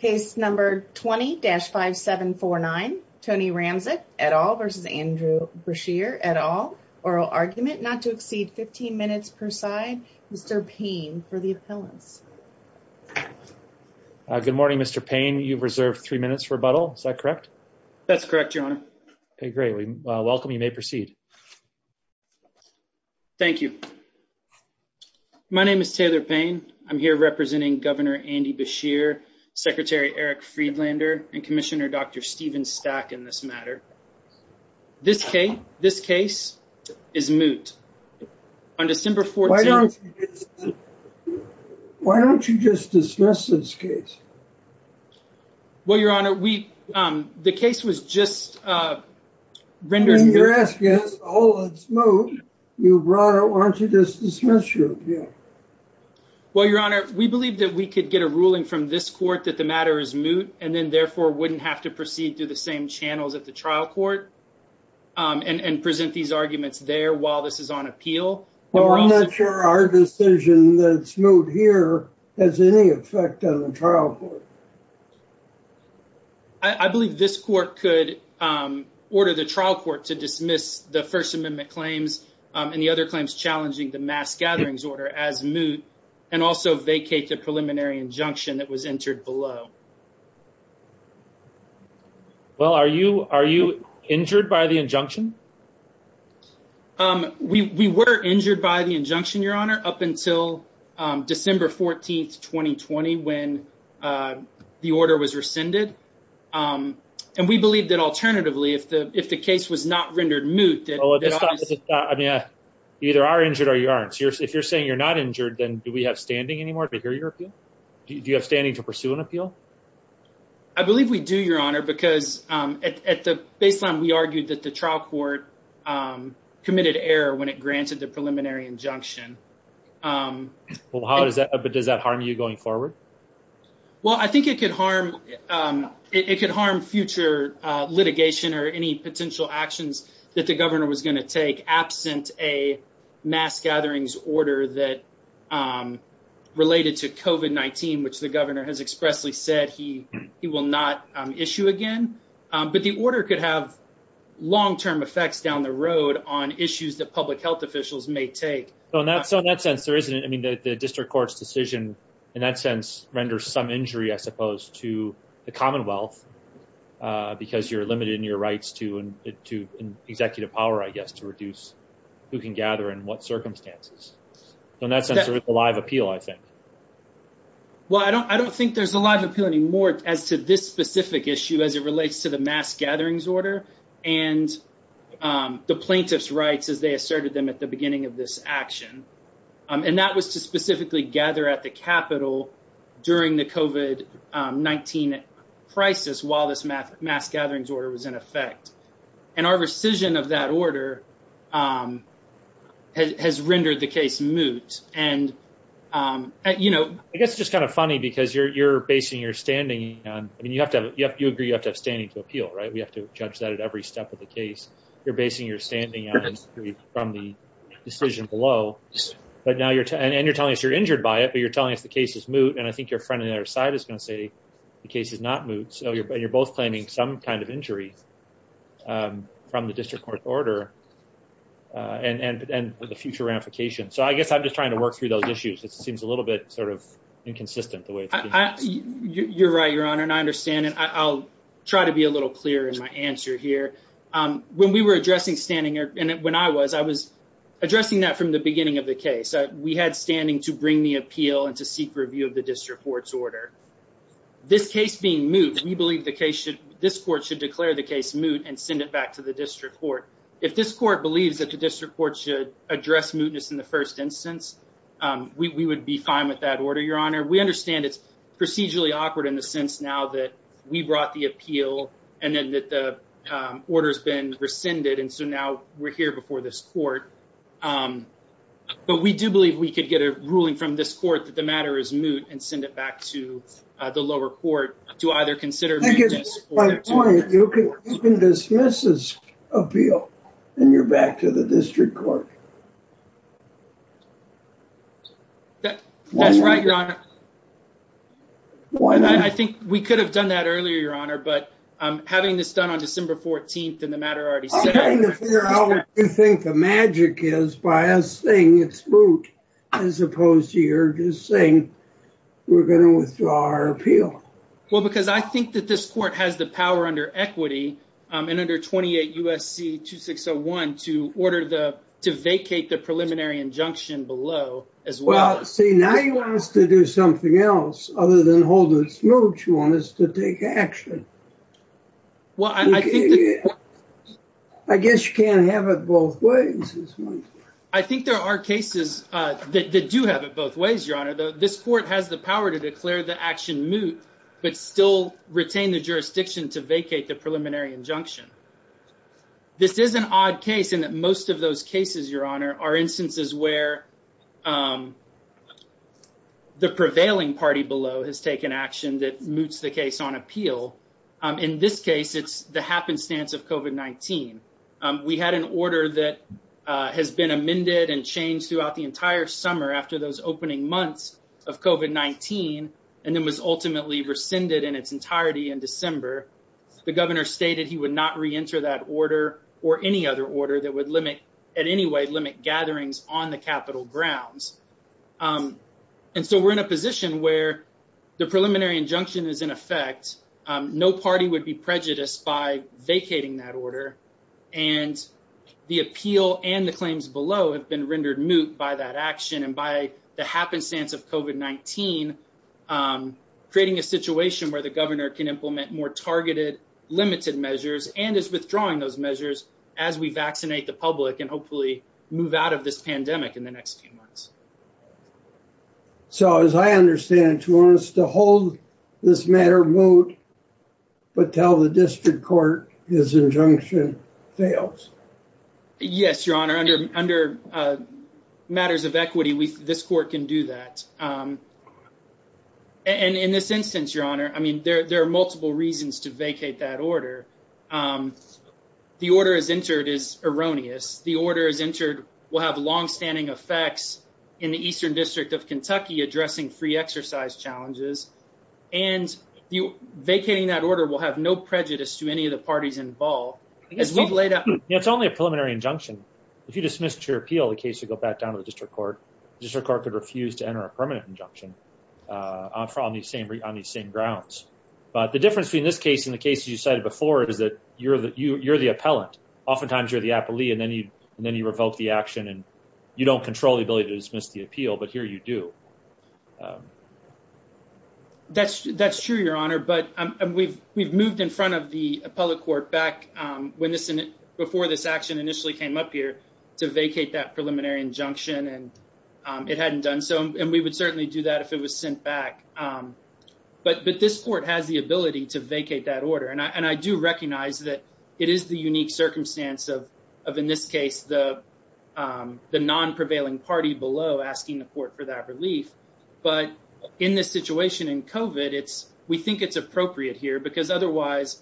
Case number 20-5749, Tony Ramsek, et al. v. Andrew Beshear, et al. Oral argument not to exceed 15 minutes per side. Mr. Payne for the appellants. Good morning, Mr. Payne. You've reserved three minutes for rebuttal. Is that correct? That's correct, Your Honor. Okay, great. Welcome. You may proceed. Thank you. My name is Taylor Payne. I'm here representing Governor Andy Beshear, Secretary Eric Friedlander, and Commissioner Dr. Stephen Stack in this matter. This case is moot. Why don't you just dismiss this case? Well, Your Honor, the case was just rendered... When you're asking us, oh, it's moot, you brought it. Why don't you just dismiss it? Well, Your Honor, we believe that we could get a ruling from this court that the matter is moot, and then therefore wouldn't have to proceed through the same channels at the trial court, and present these arguments there while this is on appeal. Well, not for our decision that it's moot here has any effect on the trial court. I believe this court could order the trial court to dismiss the First Amendment claims and the other claims challenging the mass gatherings order as moot, and also vacate the preliminary injunction that was entered below. Well, are you injured by the injunction? We were injured by the injunction, Your Honor, up until December 14th, 2020, when the order was rescinded. And we believe that alternatively, if the case was not rendered moot... Well, at this time, you either are injured or you aren't. If you're saying you're not injured, then do we have standing anymore to hear your appeal? Do you have standing to pursue an appeal? I believe we do, Your Honor, because at the baseline, we argued that the trial court committed error when it granted the preliminary injunction. Well, does that harm you going forward? Well, I think it could harm future litigation or any potential actions that the governor was going to take absent a mass gatherings order that related to COVID-19, which the governor has expressly said he will not issue again. But the order could have long-term effects down the road on issues that public health officials may take. So in that sense, there isn't... I mean, the district court's decision, in that sense, renders some injury, I suppose, to the Commonwealth, because you're limited in your rights to executive power, I guess, to reduce who can gather and what circumstances. So in that sense, it's a live appeal, I think. Well, I don't think there's a live appeal anymore as to this specific issue as it relates to the mass gatherings order and the plaintiff's rights as they asserted them at the beginning of this action. And that was to specifically gather at the Capitol during the COVID-19 crisis while this mass gatherings order was in effect. And our rescission of that order has rendered the case moot. And... I guess it's just kind of funny because you're basing your standing on... I mean, you agree you have to have standing to appeal, right? We have to judge that at every step of the case. You're basing your standing from the decision below. And you're telling us you're injured by it, but you're telling us the case is moot. And I think your friend on the other side is going to say the case is not moot. So you're both claiming some kind of injury from the district court's order and the future ramification. So I guess I'm just trying to work through those issues. It seems a little bit sort of inconsistent the way it's... You're right, Your Honor. And I understand it. I'll try to be a little clearer in my answer here. When we were addressing standing, and when I was, I was addressing that from the beginning of the case. We had standing to bring the appeal and to seek review of the district court's order. This case being moot, we believe the case should... This court should declare the case moot and send it back to the district court. If this court believes that the district court should address mootness in the first instance, we would be fine with that order, Your Honor. We understand it's procedurally awkward in the sense now that we brought the appeal and then that the order's been rescinded. And so now we're here before this court. But we do believe we could get a ruling from this court that the matter is moot and send it back to the lower court to either consider... I think it's my point. You can dismiss this appeal and you're back to the district court. That's right, Your Honor. I think we could have done that earlier, Your Honor. But having this done on December 14th and the matter already set... I'm trying to figure out what you think the magic is by us it's moot as opposed to you're just saying we're going to withdraw our appeal. Well, because I think that this court has the power under equity and under 28 U.S.C. 2601 to order the... to vacate the preliminary injunction below as well. Well, see, now you want us to do something else other than hold it moot. You want us to take action. I guess you can't have it both ways. I think there are cases that do have it both ways, Your Honor. This court has the power to declare the action moot but still retain the jurisdiction to vacate the preliminary injunction. This is an odd case in that most of those cases, Your Honor, are instances where the prevailing party below has taken action that moots the case on appeal. In this case, it's the happenstance of COVID-19. We had an order that has been amended and changed throughout the entire summer after those opening months of COVID-19 and then was ultimately rescinded in its entirety in December. The governor stated he would not reenter that order or any other order that would limit... in any way limit gatherings on the Capitol grounds. And so we're in a position where the preliminary injunction is in effect. No party would be prejudiced by vacating that order. And the appeal and the claims below have been rendered moot by that action and by the happenstance of COVID-19, creating a situation where the governor can implement more targeted, limited measures and is withdrawing those measures as we vaccinate the public and hopefully move out of this pandemic in the next few months. So as I understand it, you want us to hold this matter moot but tell the district court this injunction fails? Yes, Your Honor. Under matters of equity, this court can do that. And in this instance, Your Honor, I mean, there are multiple reasons to vacate that order. The order is entered is erroneous. The order is entered will have long-standing effects in the Eastern District of Kentucky addressing free exercise challenges. And vacating that order will have no prejudice to any of the parties involved. It's only a preliminary injunction. If you dismiss your appeal, the case would go back down to the district court. The district court could refuse to enter a permanent injunction on these same grounds. But the difference between this case and the cases you cited before is that you're the appellant. Oftentimes, you're the appellee and then you revoke the action and you don't control the ability to dismiss the appeal, but here you do. That's true, Your Honor. But we've moved in front of the public court back before this action initially came up here to vacate that preliminary injunction and it hadn't done so. And we would certainly do that if it was sent back. But this court has the ability to vacate that order. And I do recognize that it is the unique circumstance of, in this case, the non-prevailing party below asking the court for that relief. But in this situation, in COVID, we think it's appropriate here because otherwise,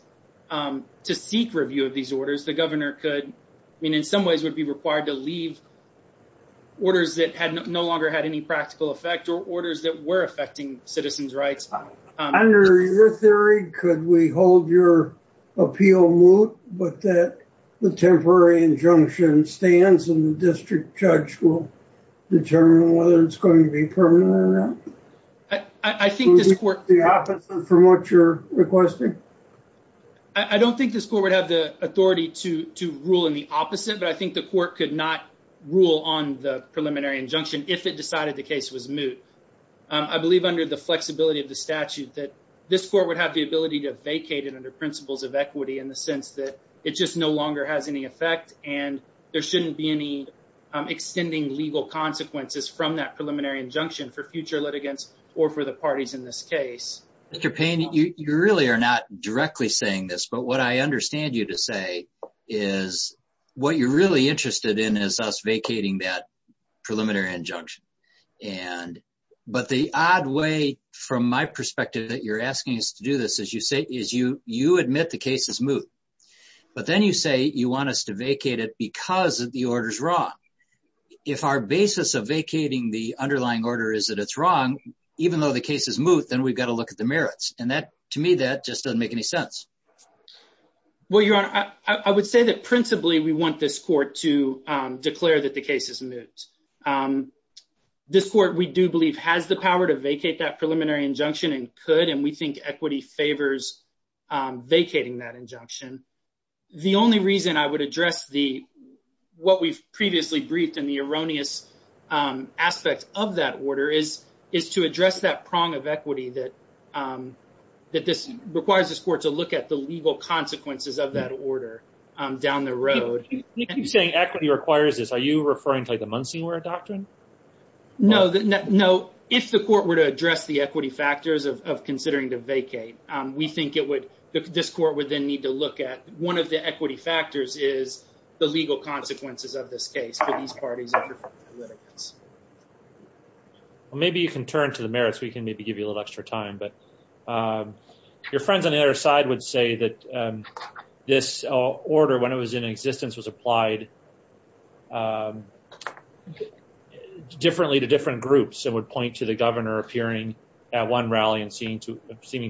to seek review of these orders, the governor could, I mean, in some ways be required to leave orders that had no longer had any practical effect or orders that were affecting citizens' rights. Under your theory, could we hold your appeal moot but that the temporary injunction stands and the district judge will determine whether it's going to be permanent or not? I think this court... The opposite from what you're requesting? I don't think this court would have the authority to rule in the opposite, but I think the court could not rule on the preliminary injunction if it decided the case was moot. I believe under the flexibility of the statute that this court would have the ability to vacate it under principles of equity in the sense that it just no longer has any effect and there shouldn't be any extending legal consequences from that preliminary injunction for future litigants or for the parties in this case. Mr. Payne, you really are not directly saying this, but what I understand you to say is what you're really interested in is us vacating that preliminary injunction. But the odd way from my perspective that you're asking us to do this is you admit the case is moot, but then you say you want us to vacate it because the order's wrong. If our basis of vacating the merits, and to me that just doesn't make any sense. Well, Your Honor, I would say that principally we want this court to declare that the case is moot. This court, we do believe, has the power to vacate that preliminary injunction and could, and we think equity favors vacating that injunction. The only reason I would address what we've previously briefed and the erroneous aspects of that order is to address that prong of equity that this requires this court to look at the legal consequences of that order down the road. You keep saying equity requires this. Are you referring to the Munsonware Doctrine? No, if the court were to address the equity factors of considering to vacate, we think this court would then need to look at one of the equity factors is the legal consequences of this case for these parties of different politics. Well, maybe you can turn to the merits. We can maybe give you a little extra time, but your friends on the other side would say that this order, when it was in existence, was applied differently to different groups and would point to the governor appearing at one rally and seeming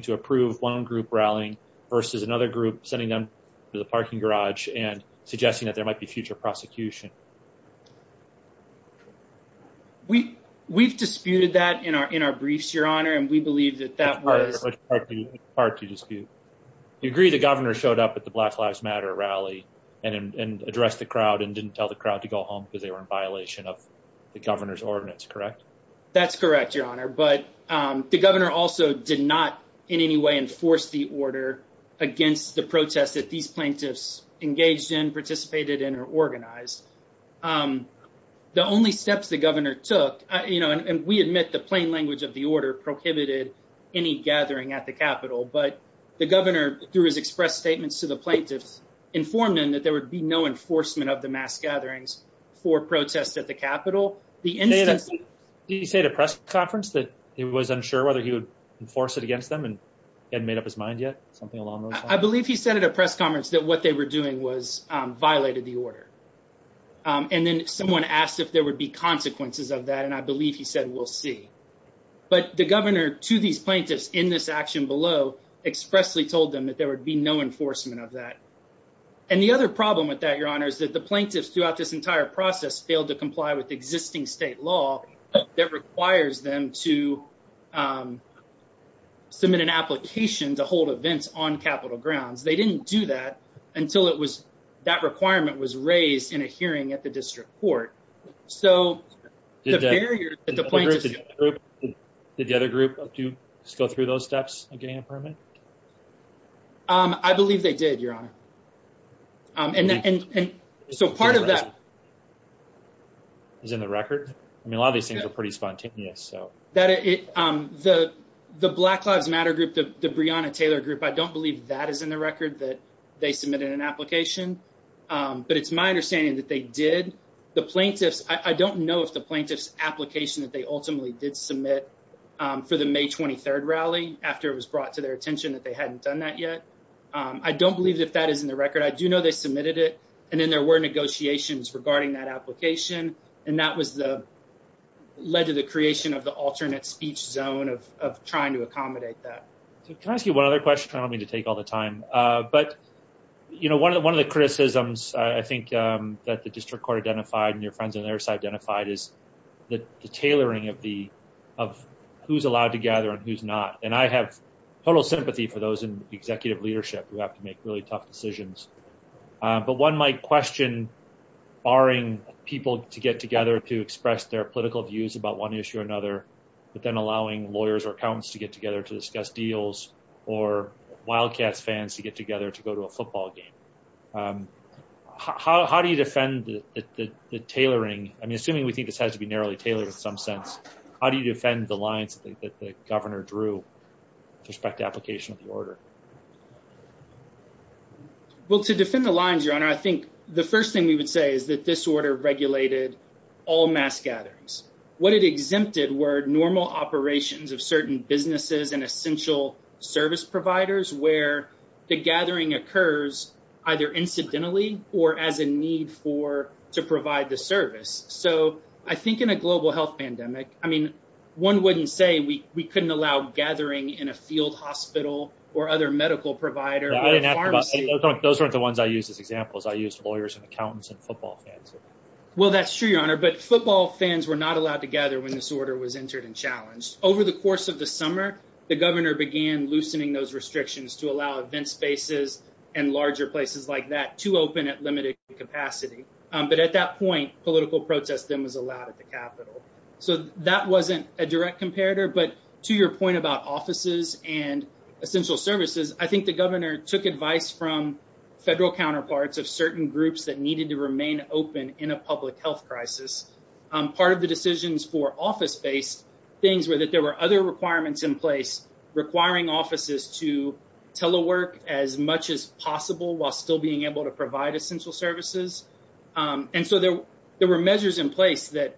to approve one group rallying versus another group sending them to the parking garage and suggesting that there might be future prosecution. We've disputed that in our briefs, Your Honor, and we believe that that was... It's hard to dispute. You agree the governor showed up at the Black Lives Matter rally and addressed the crowd and didn't tell the crowd to go home because they were in violation of the governor's ordinance, correct? That's correct, Your Honor, but the governor also did not in any way enforce the order against the protests that these plaintiffs engaged in, participated in, or organized. The only steps the governor took, and we admit the plain language of the order, prohibited any gathering at the Capitol, but the governor, through his express statements to the plaintiffs, informed them that there would be no enforcement of the mass gatherings for protests at the Capitol. Did he say at a press conference that he was unsure whether he would enforce it against them and hadn't made up his mind yet? Something along those lines? I believe he said at a press conference that what they were doing was violated the order. And then someone asked if there would be consequences of that, and I believe he said, we'll see. But the governor to these plaintiffs in this action below expressly told them that there would be no enforcement of that. And the other problem with that, Your Honor, is that the plaintiffs throughout this entire process failed to comply with existing state law that requires them to submit an application to hold events on Capitol grounds. They didn't do that until that requirement was raised in a hearing at the district court. Did the other group go through those steps of getting a permit? I believe they did, Your Honor. So part of that... Is in the record? I mean, a lot of these things are pretty spontaneous. The Black Lives Matter group, the Breonna Taylor group, I don't believe that is in the record, that they submitted an application. But it's my understanding that they did. The plaintiffs, I don't know if the plaintiffs' application that they ultimately did submit for the May 23 rally, after it was brought to their attention, that they hadn't done that yet. I don't believe that that is in the record. I do know they submitted it, and then there were negotiations regarding that application. And that led to the creation of the alternate speech zone of trying to accommodate that. Can I ask you one other question? I don't mean to take all the time. But one of the criticisms, I think, that the district court identified and your friends on the other side identified is the tailoring of who's allowed to gather and who's not. And I have total sympathy for those in executive leadership who have to make really tough decisions. But one might question barring people to get together to express their political views about one issue or another, but then allowing lawyers or accountants to get together to discuss deals, or Wildcats fans to get together to go to a football game. How do you defend the tailoring? I mean, assuming we think this has to be narrowly tailored in some sense, how do you defend the lines that the governor drew with respect to application of the order? Well, to defend the lines, Your Honor, I think the first thing we would say is that this order regulated all mass gatherings. What it exempted were normal operations of certain businesses and essential service providers where the gathering occurs either incidentally or as a need for to provide the service. So I think in a global health pandemic, I mean, one wouldn't say we couldn't allow gathering in a field hospital or other medical provider. Those aren't the ones I use as examples. I use lawyers and accountants and football fans. Well, that's true, Your Honor, but football fans were not allowed to gather when this order was entered and challenged. Over the course of the summer, the governor began loosening those restrictions to allow event spaces and larger places like that to open at limited capacity. But at that point, political protest then was allowed at the Capitol. So that wasn't a direct comparator. But to your point about offices and essential services, I think the governor took advice from federal counterparts of certain groups that needed to remain open in a public health crisis. Part of the decisions for office based things were that there were other requirements in place requiring offices to telework as much as possible while still being able to provide essential services. And so there were measures in place that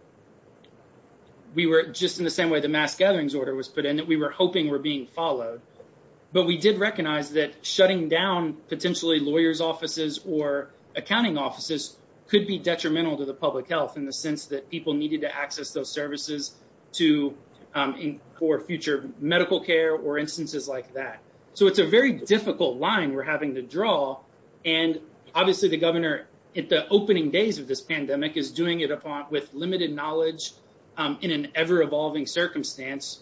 we were just in the same way the mass gatherings order was put in that we were hoping were being followed. But we did recognize that shutting down potentially lawyers offices or accounting offices could be detrimental to the public health in the sense that people needed to access those services to or future medical care or instances like that. So it's a very difficult line we're having to draw. And obviously, the governor at the opening days of this pandemic is doing it with limited knowledge in an ever evolving circumstance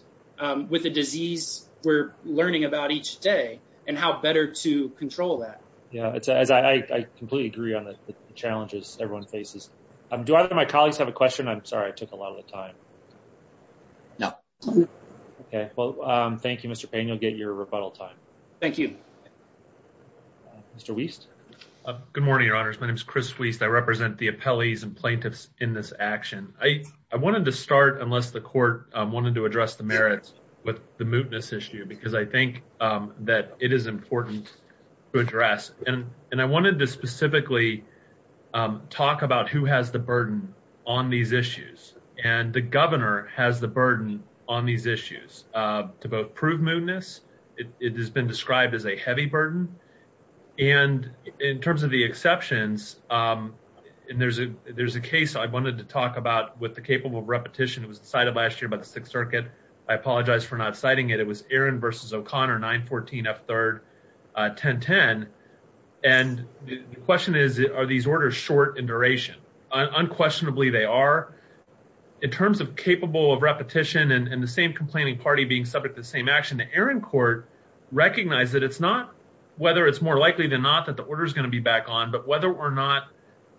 with a disease we're learning about each day, and how better to control that. Yeah, it's as I completely agree on the challenges everyone faces. Do either my colleagues have a question? I'm sorry, I took a lot of the time. No. Okay, well, thank you, Mr. Payne, you'll get your rebuttal time. Thank you. Mr. Wiest. Good morning, your honors. My name is Chris Wiest. I represent the appellees and to start unless the court wanted to address the merits with the mootness issue, because I think that it is important to address and and I wanted to specifically talk about who has the burden on these issues. And the governor has the burden on these issues to both prove mootness, it has been described as a heavy burden. And in terms of the exceptions, and there's a there's a case I wanted to talk about with the capable repetition, it was decided last year by the Sixth Circuit. I apologize for not citing it. It was Aaron versus O'Connor 914 f 3rd 1010. And the question is, are these orders short in duration? unquestionably, they are, in terms of capable of repetition, and the same complaining party being subject to the same action, the Aaron court, recognize that it's not whether it's more likely than not that the order is going to be back on, but whether or not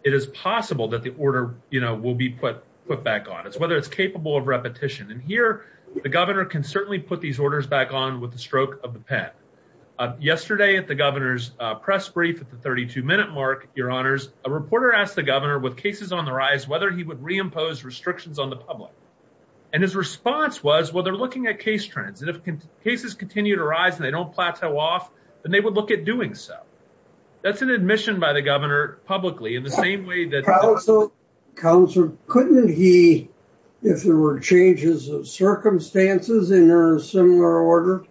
it is possible that the order, you know, will be put, put back on as whether it's capable of repetition. And here, the governor can certainly put these orders back on with the stroke of the pen. Yesterday at the governor's press brief at the 32 minute mark, your honors, a reporter asked the governor with cases on the rise, whether he would reimpose restrictions on the public. And his response was, well, they're looking at case trends, and if cases continue to rise, and they don't plateau off, then they would look at doing so. That's an admission by the governor publicly in the same way that council couldn't he, if there were changes of circumstances in a similar order,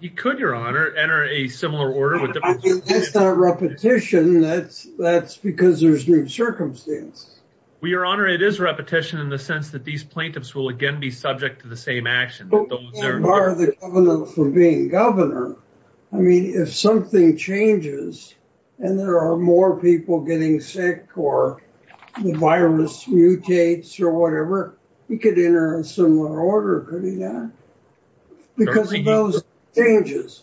he could your honor enter a similar order with repetition, that's that's because there's new circumstance. We are honored it is repetition in the sense that these plaintiffs will again be if something changes, and there are more people getting sick, or the virus mutates, or whatever, he could enter a similar order, could he not? Because of those changes,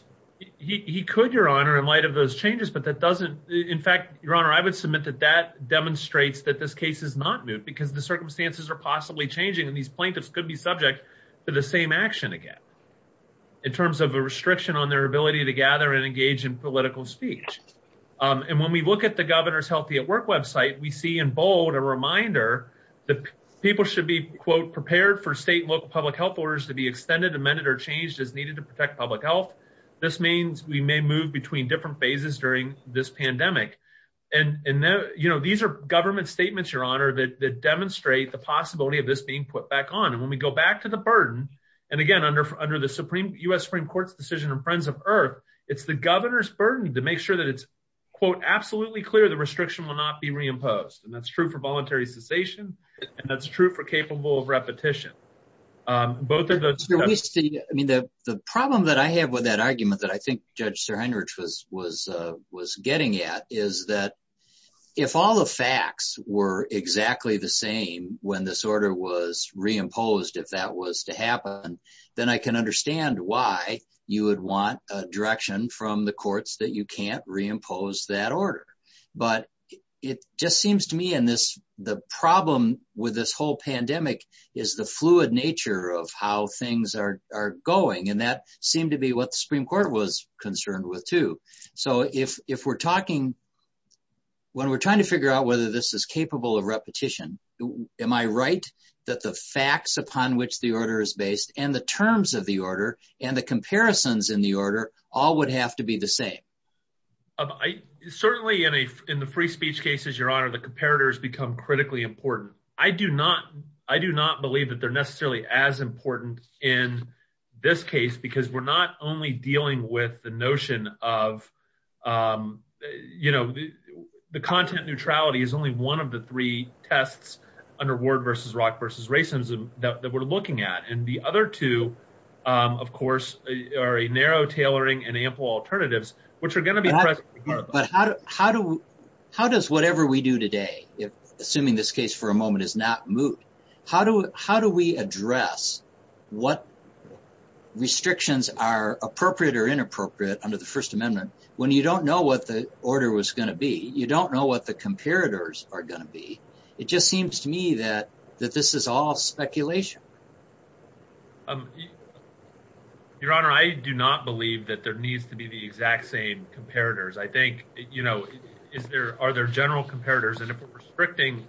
he could your honor, in light of those changes, but that doesn't, in fact, your honor, I would submit that that demonstrates that this case is not new, because the circumstances are possibly changing. And these plaintiffs could be subject to the same action again, in terms of a restriction on their ability to gather and engage in political speech. And when we look at the governor's healthy at work website, we see in bold a reminder that people should be, quote, prepared for state and local public health orders to be extended, amended, or changed as needed to protect public health. This means we may move between different phases during this pandemic. And, and, you know, these are government statements, your honor, that demonstrate the possibility of this being put back on. And when we go back to the burden, and again, under under the supreme US Supreme Court's decision, and Friends of Earth, it's the governor's burden to make sure that it's, quote, absolutely clear, the restriction will not be reimposed. And that's true for voluntary cessation. And that's true for capable of repetition. Both of those. We see, I mean, the problem that I have with that argument that I think Judge SirHendricks was, was, was getting at is that if all the facts were exactly the same, when this order was reimposed, if that was to happen, then I can understand why you would want a direction from the courts that you can't reimpose that order. But it just seems to me in this, the problem with this whole pandemic is the fluid nature of how things are going. And that seemed to be what the Supreme Court was concerned with, too. So if we're talking, when we're trying to figure out whether this is capable of repetition, am I right that the facts upon which the order is based and the terms of the order and the comparisons in the order all would have to be the same? Certainly in a, in the free speech cases, your honor, the comparators become critically important. I do not, I do not believe that they're necessarily as important in this case, because we're not only dealing with the notion of, you know, the content neutrality is only one of the three tests under Ward versus Rock versus racism that we're looking at. And the other two, of course, are a narrow tailoring and ample alternatives, which are going to be. But how, how do, how does whatever we do today, if assuming this case for a moment is not moved, how do, how do we address what restrictions are appropriate or inappropriate under the First Amendment when you don't know what the order was going to be? You don't know what the comparators are going to be. It just seems to me that, that this is all speculation. Your honor, I do not believe that there needs to be the exact same comparators. I think, you know, is there, are there general comparators and if we're restricting,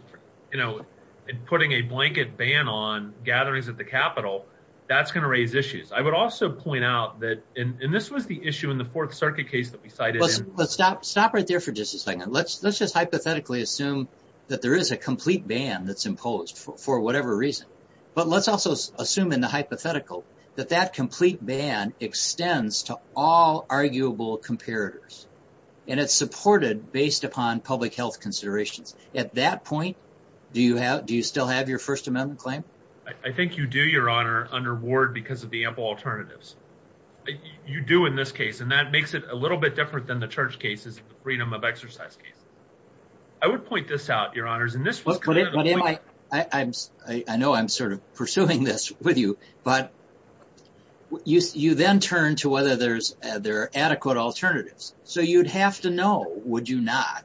you know, and putting a blanket ban on gatherings at the Capitol, that's going to raise issues. I would also point out that, and this was the issue in the Fourth Circuit case that we cited. Let's stop, stop right there for just a second. Let's, let's just hypothetically assume that there is a complete ban that's imposed for whatever reason. But let's also assume in the hypothetical, that that complete ban extends to all arguable comparators. And it's supported based upon public health considerations. At that point, do you have, do you still have your First Amendment claim? I think you do, your honor, under Ward because of the ample alternatives. You do in this case, and that makes it a little bit different than the church cases, the freedom of exercise case. I would point this out, your honors, and this was. I'm, I know I'm sort of pursuing this with you, but you then turn to whether there's, there are adequate alternatives. So you'd have to know, would you not,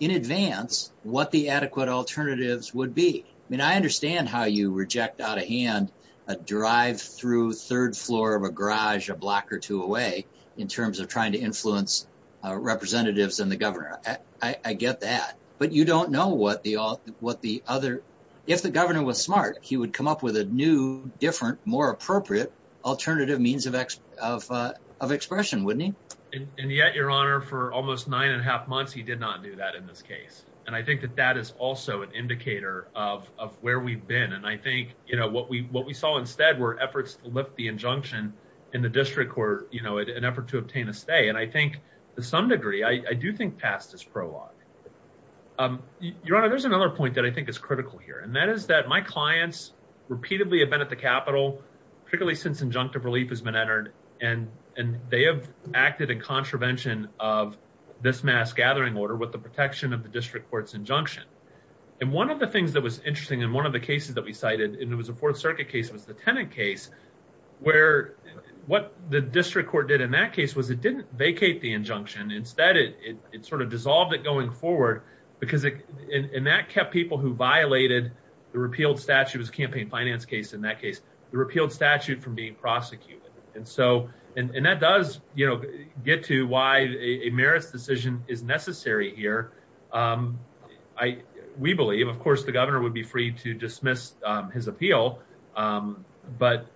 in advance, what the adequate alternatives would be. I mean, I understand how you reject out of hand, a drive through third floor of a garage a block or two away in terms of trying to influence representatives and the governor. I get that, but you don't know what the, what the other, if the governor was smart, he would come up with a new, different, more appropriate alternative means of expression, wouldn't he? And yet your honor, for almost nine and a half months, he did not do that in this case. And I think that that is also an indicator of where we've been. And I think, you know, what we, what we saw instead were efforts to lift the injunction in the district court, you know, an effort to obtain a stay. And I think to some degree, I do think past this prologue, um, your honor, there's another point that I think is critical here. And that is that my clients repeatedly have been at the Capitol, particularly since injunctive relief has been entered and, and they have acted in contravention of this mass gathering order with the protection of the district court's injunction. And one of the things that was interesting in one of the cases that we cited, and it was a fourth circuit case, it was the tenant case where what the district court did in that case was it didn't vacate the injunction. Instead, it, it, it sort of dissolved it going forward because it, and that kept people who violated the repealed statute was campaign finance case. In that case, the repealed statute from being prosecuted. And so, and, and that does, you know, get to why a marriage decision is necessary here. Um, I, we believe, of course, the governor would be free to dismiss his appeal. Um, but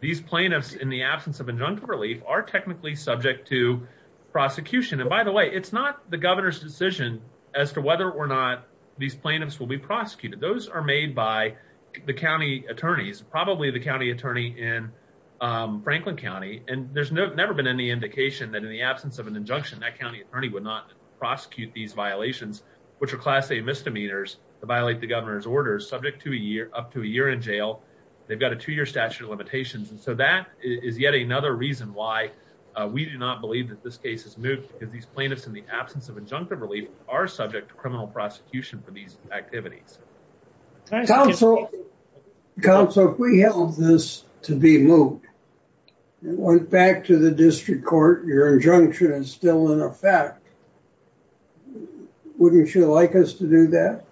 these plaintiffs in the absence of injunctive relief are technically subject to prosecution. And by the way, it's not the governor's decision as to whether or not these plaintiffs will be prosecuted. Those are made by the County attorneys, probably the County attorney in, um, Franklin County. And there's never been any indication that in the absence of an injunction, that County attorney would not prosecute these violations, which are class A misdemeanors to violate the governor's orders subject to a year, up to a year in jail. They've got a two-year statute of limitations. And so that is yet another reason why we do not believe that this case is moot because these plaintiffs in the absence of injunctive relief are subject to criminal prosecution for these activities. Counsel, counsel, if we held this to be moot, it went back to the district court. Your injunction is still in effect. Wouldn't you like us to do that?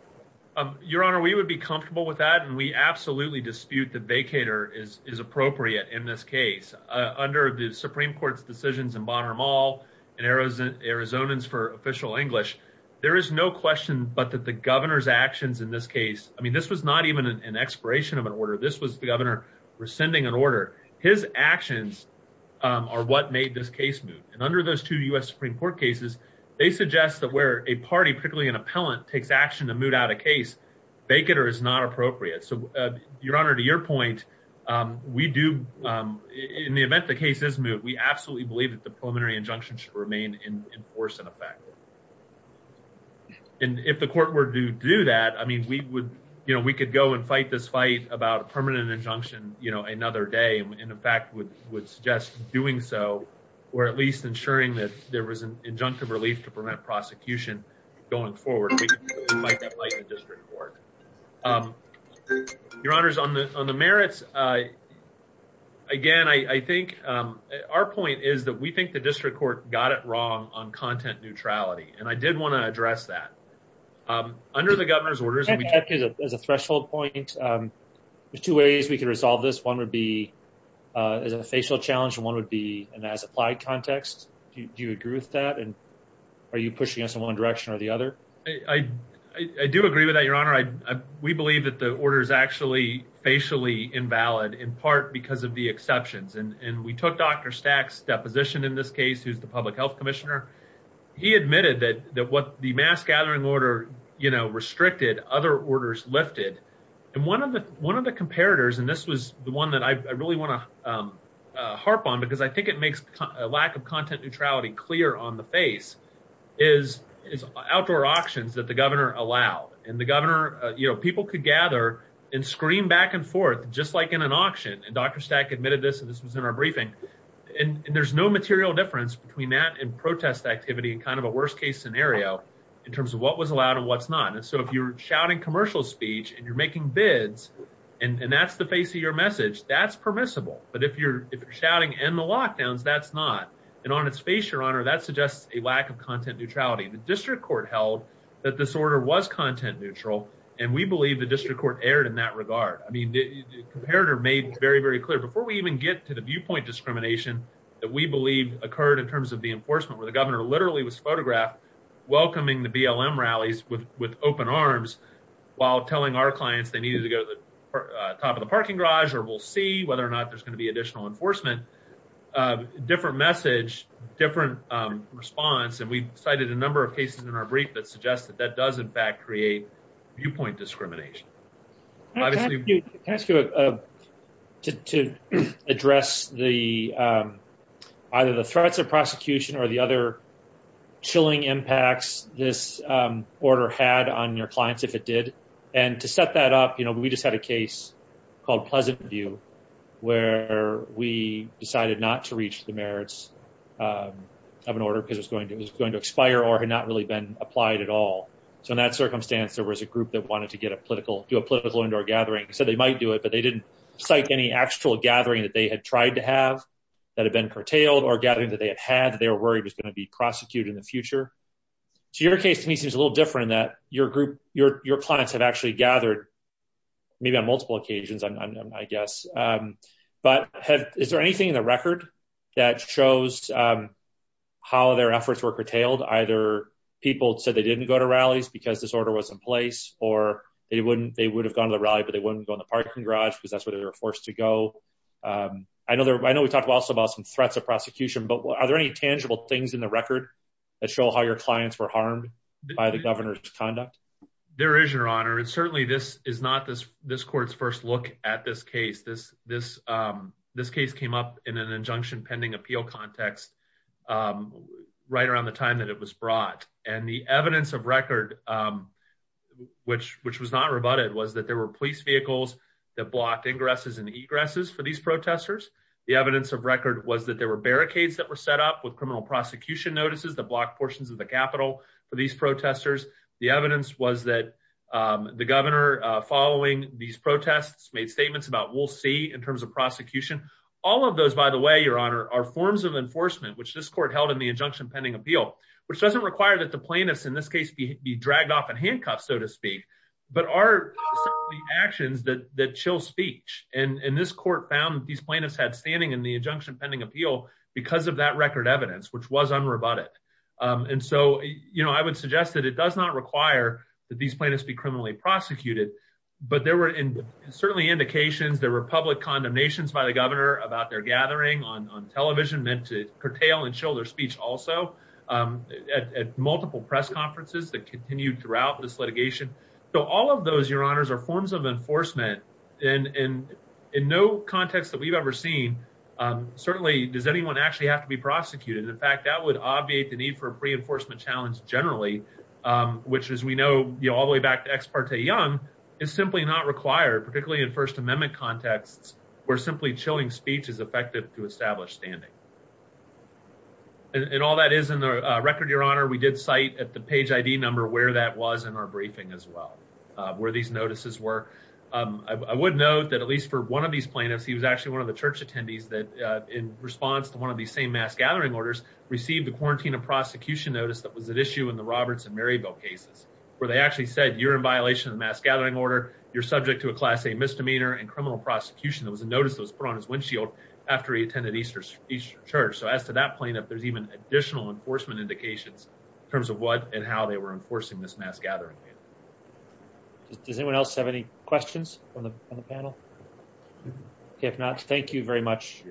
Um, Your Honor, we would be comfortable with that. And we absolutely dispute the vacator is, is appropriate in this case, uh, under the Supreme Court's decisions in Bonner Mall and Arizona, Arizonans for official English. There is no question, but that the governor's actions in this case, I mean, this was not even an expiration of an order. This was the governor rescinding an order. His actions, um, are what made this case moot. And under those two us Supreme Court cases, they suggest that where a party, particularly an appellant takes action to moot out a case vacator is not appropriate. So, uh, Your Honor, to your point, um, we do, um, in the event, the case is moot. We absolutely believe that the preliminary injunction should remain in force in effect. And if the court were to do that, I mean, we would, you know, we could go and fight this fight about a permanent injunction, you know, another day. And in fact, would would suggest doing so, or at least ensuring that there was an injunctive relief to prevent prosecution going forward. District court. Your Honor's on the on the merits. Uh, again, I think our point is that we think the district court got it wrong on content neutrality. And I did want to address that, um, under the governor's as a threshold point. Um, there's two ways we could resolve this. One would be, uh, is a facial challenge. One would be an as applied context. Do you agree with that? And are you pushing us in one direction or the other? I do agree with that, Your Honor. I we believe that the order is actually facially invalid in part because of the exceptions. And we took Dr Stack's deposition in this case. Who's the public health commissioner? He admitted that what the mass gathering order, you know, restricted other orders lifted. And one of the one of the comparators, and this was the one that I really want to, um, harp on because I think it makes a lack of content neutrality clear on the face is outdoor auctions that the governor allowed. And the governor, you know, people could gather and scream back and forth, just like in an auction. And Dr Stack admitted this. And this kind of a worst case scenario in terms of what was allowed and what's not. And so if you're shouting commercial speech and you're making bids and that's the face of your message that's permissible. But if you're shouting and the lockdowns, that's not. And on its face, Your Honor, that suggests a lack of content neutrality. The district court held that disorder was content neutral, and we believe the district court aired in that regard. I mean, the comparator made very, very clear before we even get to the viewpoint discrimination that we believe occurred in the enforcement where the governor literally was photographed welcoming the BLM rallies with open arms while telling our clients they needed to go to the top of the parking garage, or we'll see whether or not there's gonna be additional enforcement, uh, different message, different, um, response. And we cited a number of cases in our brief that suggests that that does, in fact, create viewpoint discrimination. Can I ask you to address either the threats of prosecution or the other chilling impacts this order had on your clients if it did? And to set that up, you know, we just had a case called Pleasantview where we decided not to reach the merits of an order because it was going to expire or had not really been applied at all. So in that circumstance, there was a group that wanted to get a political, do a political indoor gathering, said they might do it, but they didn't cite any actual gathering that they had tried to have that had been curtailed or gathering that they had had that they were worried was going to be prosecuted in the future. So your case to me seems a little different in that your group, your, your clients have actually gathered, maybe on multiple occasions, I'm, I'm, I guess, um, but have, is there anything in the record that shows, um, how their efforts were curtailed? Either people said they didn't go to rallies because this order was in place, or they wouldn't, they would have gone to the rally, but they wouldn't go in the parking garage because that's where they were forced to go. Um, I know there, I know we talked also about some threats of prosecution, but are there any tangible things in the record that show how your clients were harmed by the governor's conduct? There is your honor. And certainly this is not this, this court's first look at this case, this, this, um, this case came up in an injunction, pending appeal context, um, right around the time that it was brought and the evidence of record, um, which, which was not rebutted was that there were police vehicles that blocked ingresses and egresses for these protesters. The evidence of record was that there were barricades that were set up with criminal prosecution notices that blocked portions of the Capitol for these protesters. The evidence was that, um, the governor, uh, following these protests made about we'll see in terms of prosecution, all of those, by the way, your honor, our forms of enforcement, which this court held in the injunction pending appeal, which doesn't require that the plaintiffs in this case be dragged off in handcuffs, so to speak, but are the actions that, that chill speech. And this court found that these plaintiffs had standing in the injunction pending appeal because of that record evidence, which was unrebutted. Um, and so, you know, I would suggest that it does not require that these plaintiffs be criminally prosecuted, but there were certainly indications that were public condemnations by the governor about their gathering on, on television meant to curtail and shoulder speech also, um, at, at multiple press conferences that continued throughout this litigation. So all of those, your honors are forms of enforcement in, in, in no context that we've ever seen. Um, certainly does anyone actually have to be prosecuted? In fact, that would obviate the need for a is simply not required, particularly in first amendment contexts where simply chilling speech is effective to establish standing. And all that is in the record, your honor, we did cite at the page ID number where that was in our briefing as well, uh, where these notices were. Um, I would note that at least for one of these plaintiffs, he was actually one of the church attendees that, uh, in response to one of these same mass gathering orders received the quarantine of prosecution notice that was at issue in the Roberts and Maryville cases, where they actually said you're in violation of the mass gathering order. You're subject to a class, a misdemeanor and criminal prosecution. It was a notice that was put on his windshield after he attended Easter Easter church. So as to that plaintiff, there's even additional enforcement indications in terms of what and how they were enforcing this mass gathering. Does anyone else have any questions on the panel? If not, thank you very much.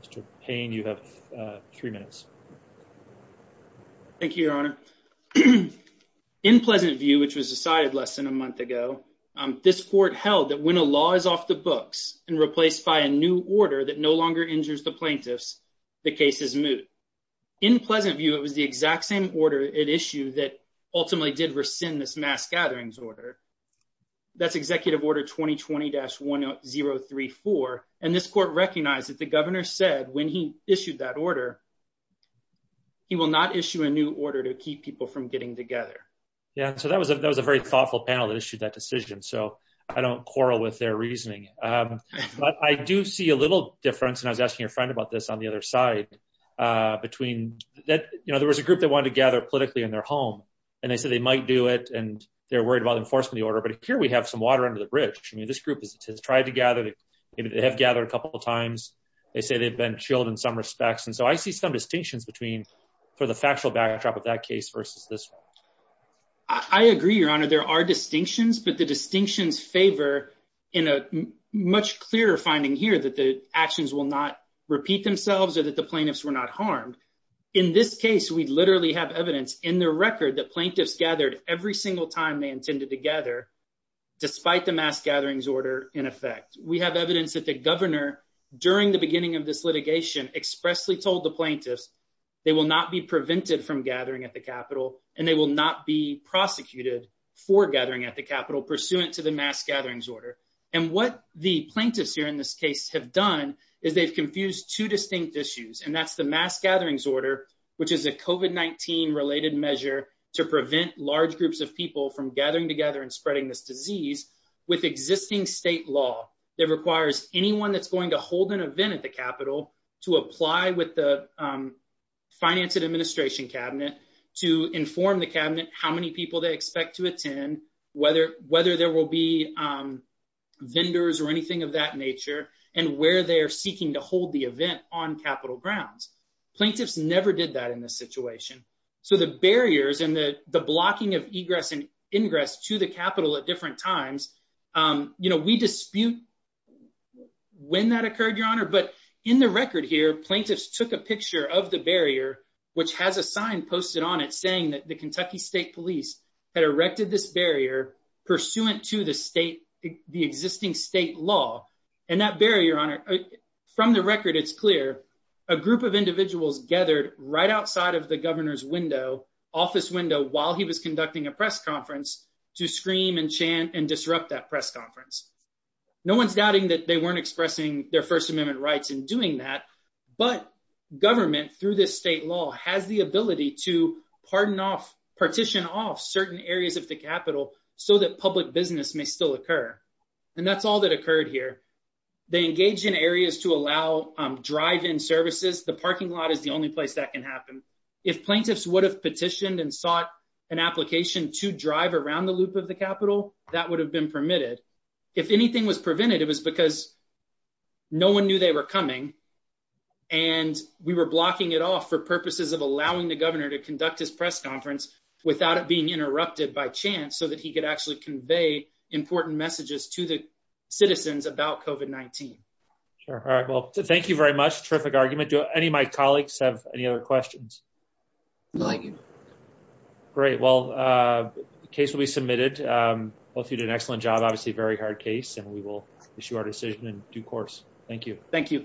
Mr. Payne, you have three minutes. Thank you, your honor. In pleasant view, which was decided less than a month ago, this court held that when a law is off the books and replaced by a new order that no longer injures the plaintiffs, the case is moot. In pleasant view, it was the exact same order at issue that ultimately did rescind this mass order. That's executive order 2020-1034. And this court recognized that the governor said when he issued that order, he will not issue a new order to keep people from getting together. Yeah. So that was a, that was a very thoughtful panel that issued that decision. So I don't quarrel with their reasoning. Um, but I do see a little difference. And I was asking your friend about this on the other side, uh, between that, you know, there was a group that gathered politically in their home and they said they might do it and they're worried about enforcement of the order. But here we have some water under the bridge. I mean, this group has tried to gather, they have gathered a couple of times. They say they've been chilled in some respects. And so I see some distinctions between, for the factual backdrop of that case versus this. I agree, your honor, there are distinctions, but the distinctions favor in a much clearer finding here that the actions will not repeat themselves or that the plaintiffs were not harmed. In this case, we literally have evidence in the record that plaintiffs gathered every single time they intended to gather despite the mass gatherings order. In effect, we have evidence that the governor during the beginning of this litigation expressly told the plaintiffs they will not be prevented from gathering at the Capitol and they will not be prosecuted for gathering at the Capitol pursuant to the mass gatherings order. And what the plaintiffs here have done is they've confused two distinct issues and that's the mass gatherings order, which is a COVID-19 related measure to prevent large groups of people from gathering together and spreading this disease with existing state law that requires anyone that's going to hold an event at the Capitol to apply with the finance and administration cabinet to inform the cabinet how people they expect to attend, whether there will be vendors or anything of that nature, and where they're seeking to hold the event on Capitol grounds. Plaintiffs never did that in this situation. So the barriers and the blocking of egress and ingress to the Capitol at different times, we dispute when that occurred, your honor, but in the record here, plaintiffs took a picture of the barrier, which has a sign posted on it saying that the Kentucky state police had erected this barrier pursuant to the state, the existing state law and that barrier, your honor, from the record, it's clear a group of individuals gathered right outside of the governor's window, office window, while he was conducting a press conference to scream and chant and disrupt that press conference. No one's doubting that they weren't expressing their first amendment rights in doing that, but government through this state law has the ability to pardon off, partition off certain areas of the Capitol so that public business may still occur. And that's all that occurred here. They engaged in areas to allow drive-in services. The parking lot is the only place that can happen. If plaintiffs would have petitioned and sought an application to drive around the loop of the Capitol, that would have been permitted. If anything was prevented, it was because no one knew they were coming and we were blocking it off for purposes of allowing the governor to conduct his press conference without it being interrupted by chance, so that he could actually convey important messages to the citizens about COVID-19. Sure. All right. Well, thank you very much. Terrific argument. Do any of my colleagues have any other questions? Great. Well, the case will be submitted. Both of you did an excellent job, very hard case, and we will issue our decision in due course. Thank you.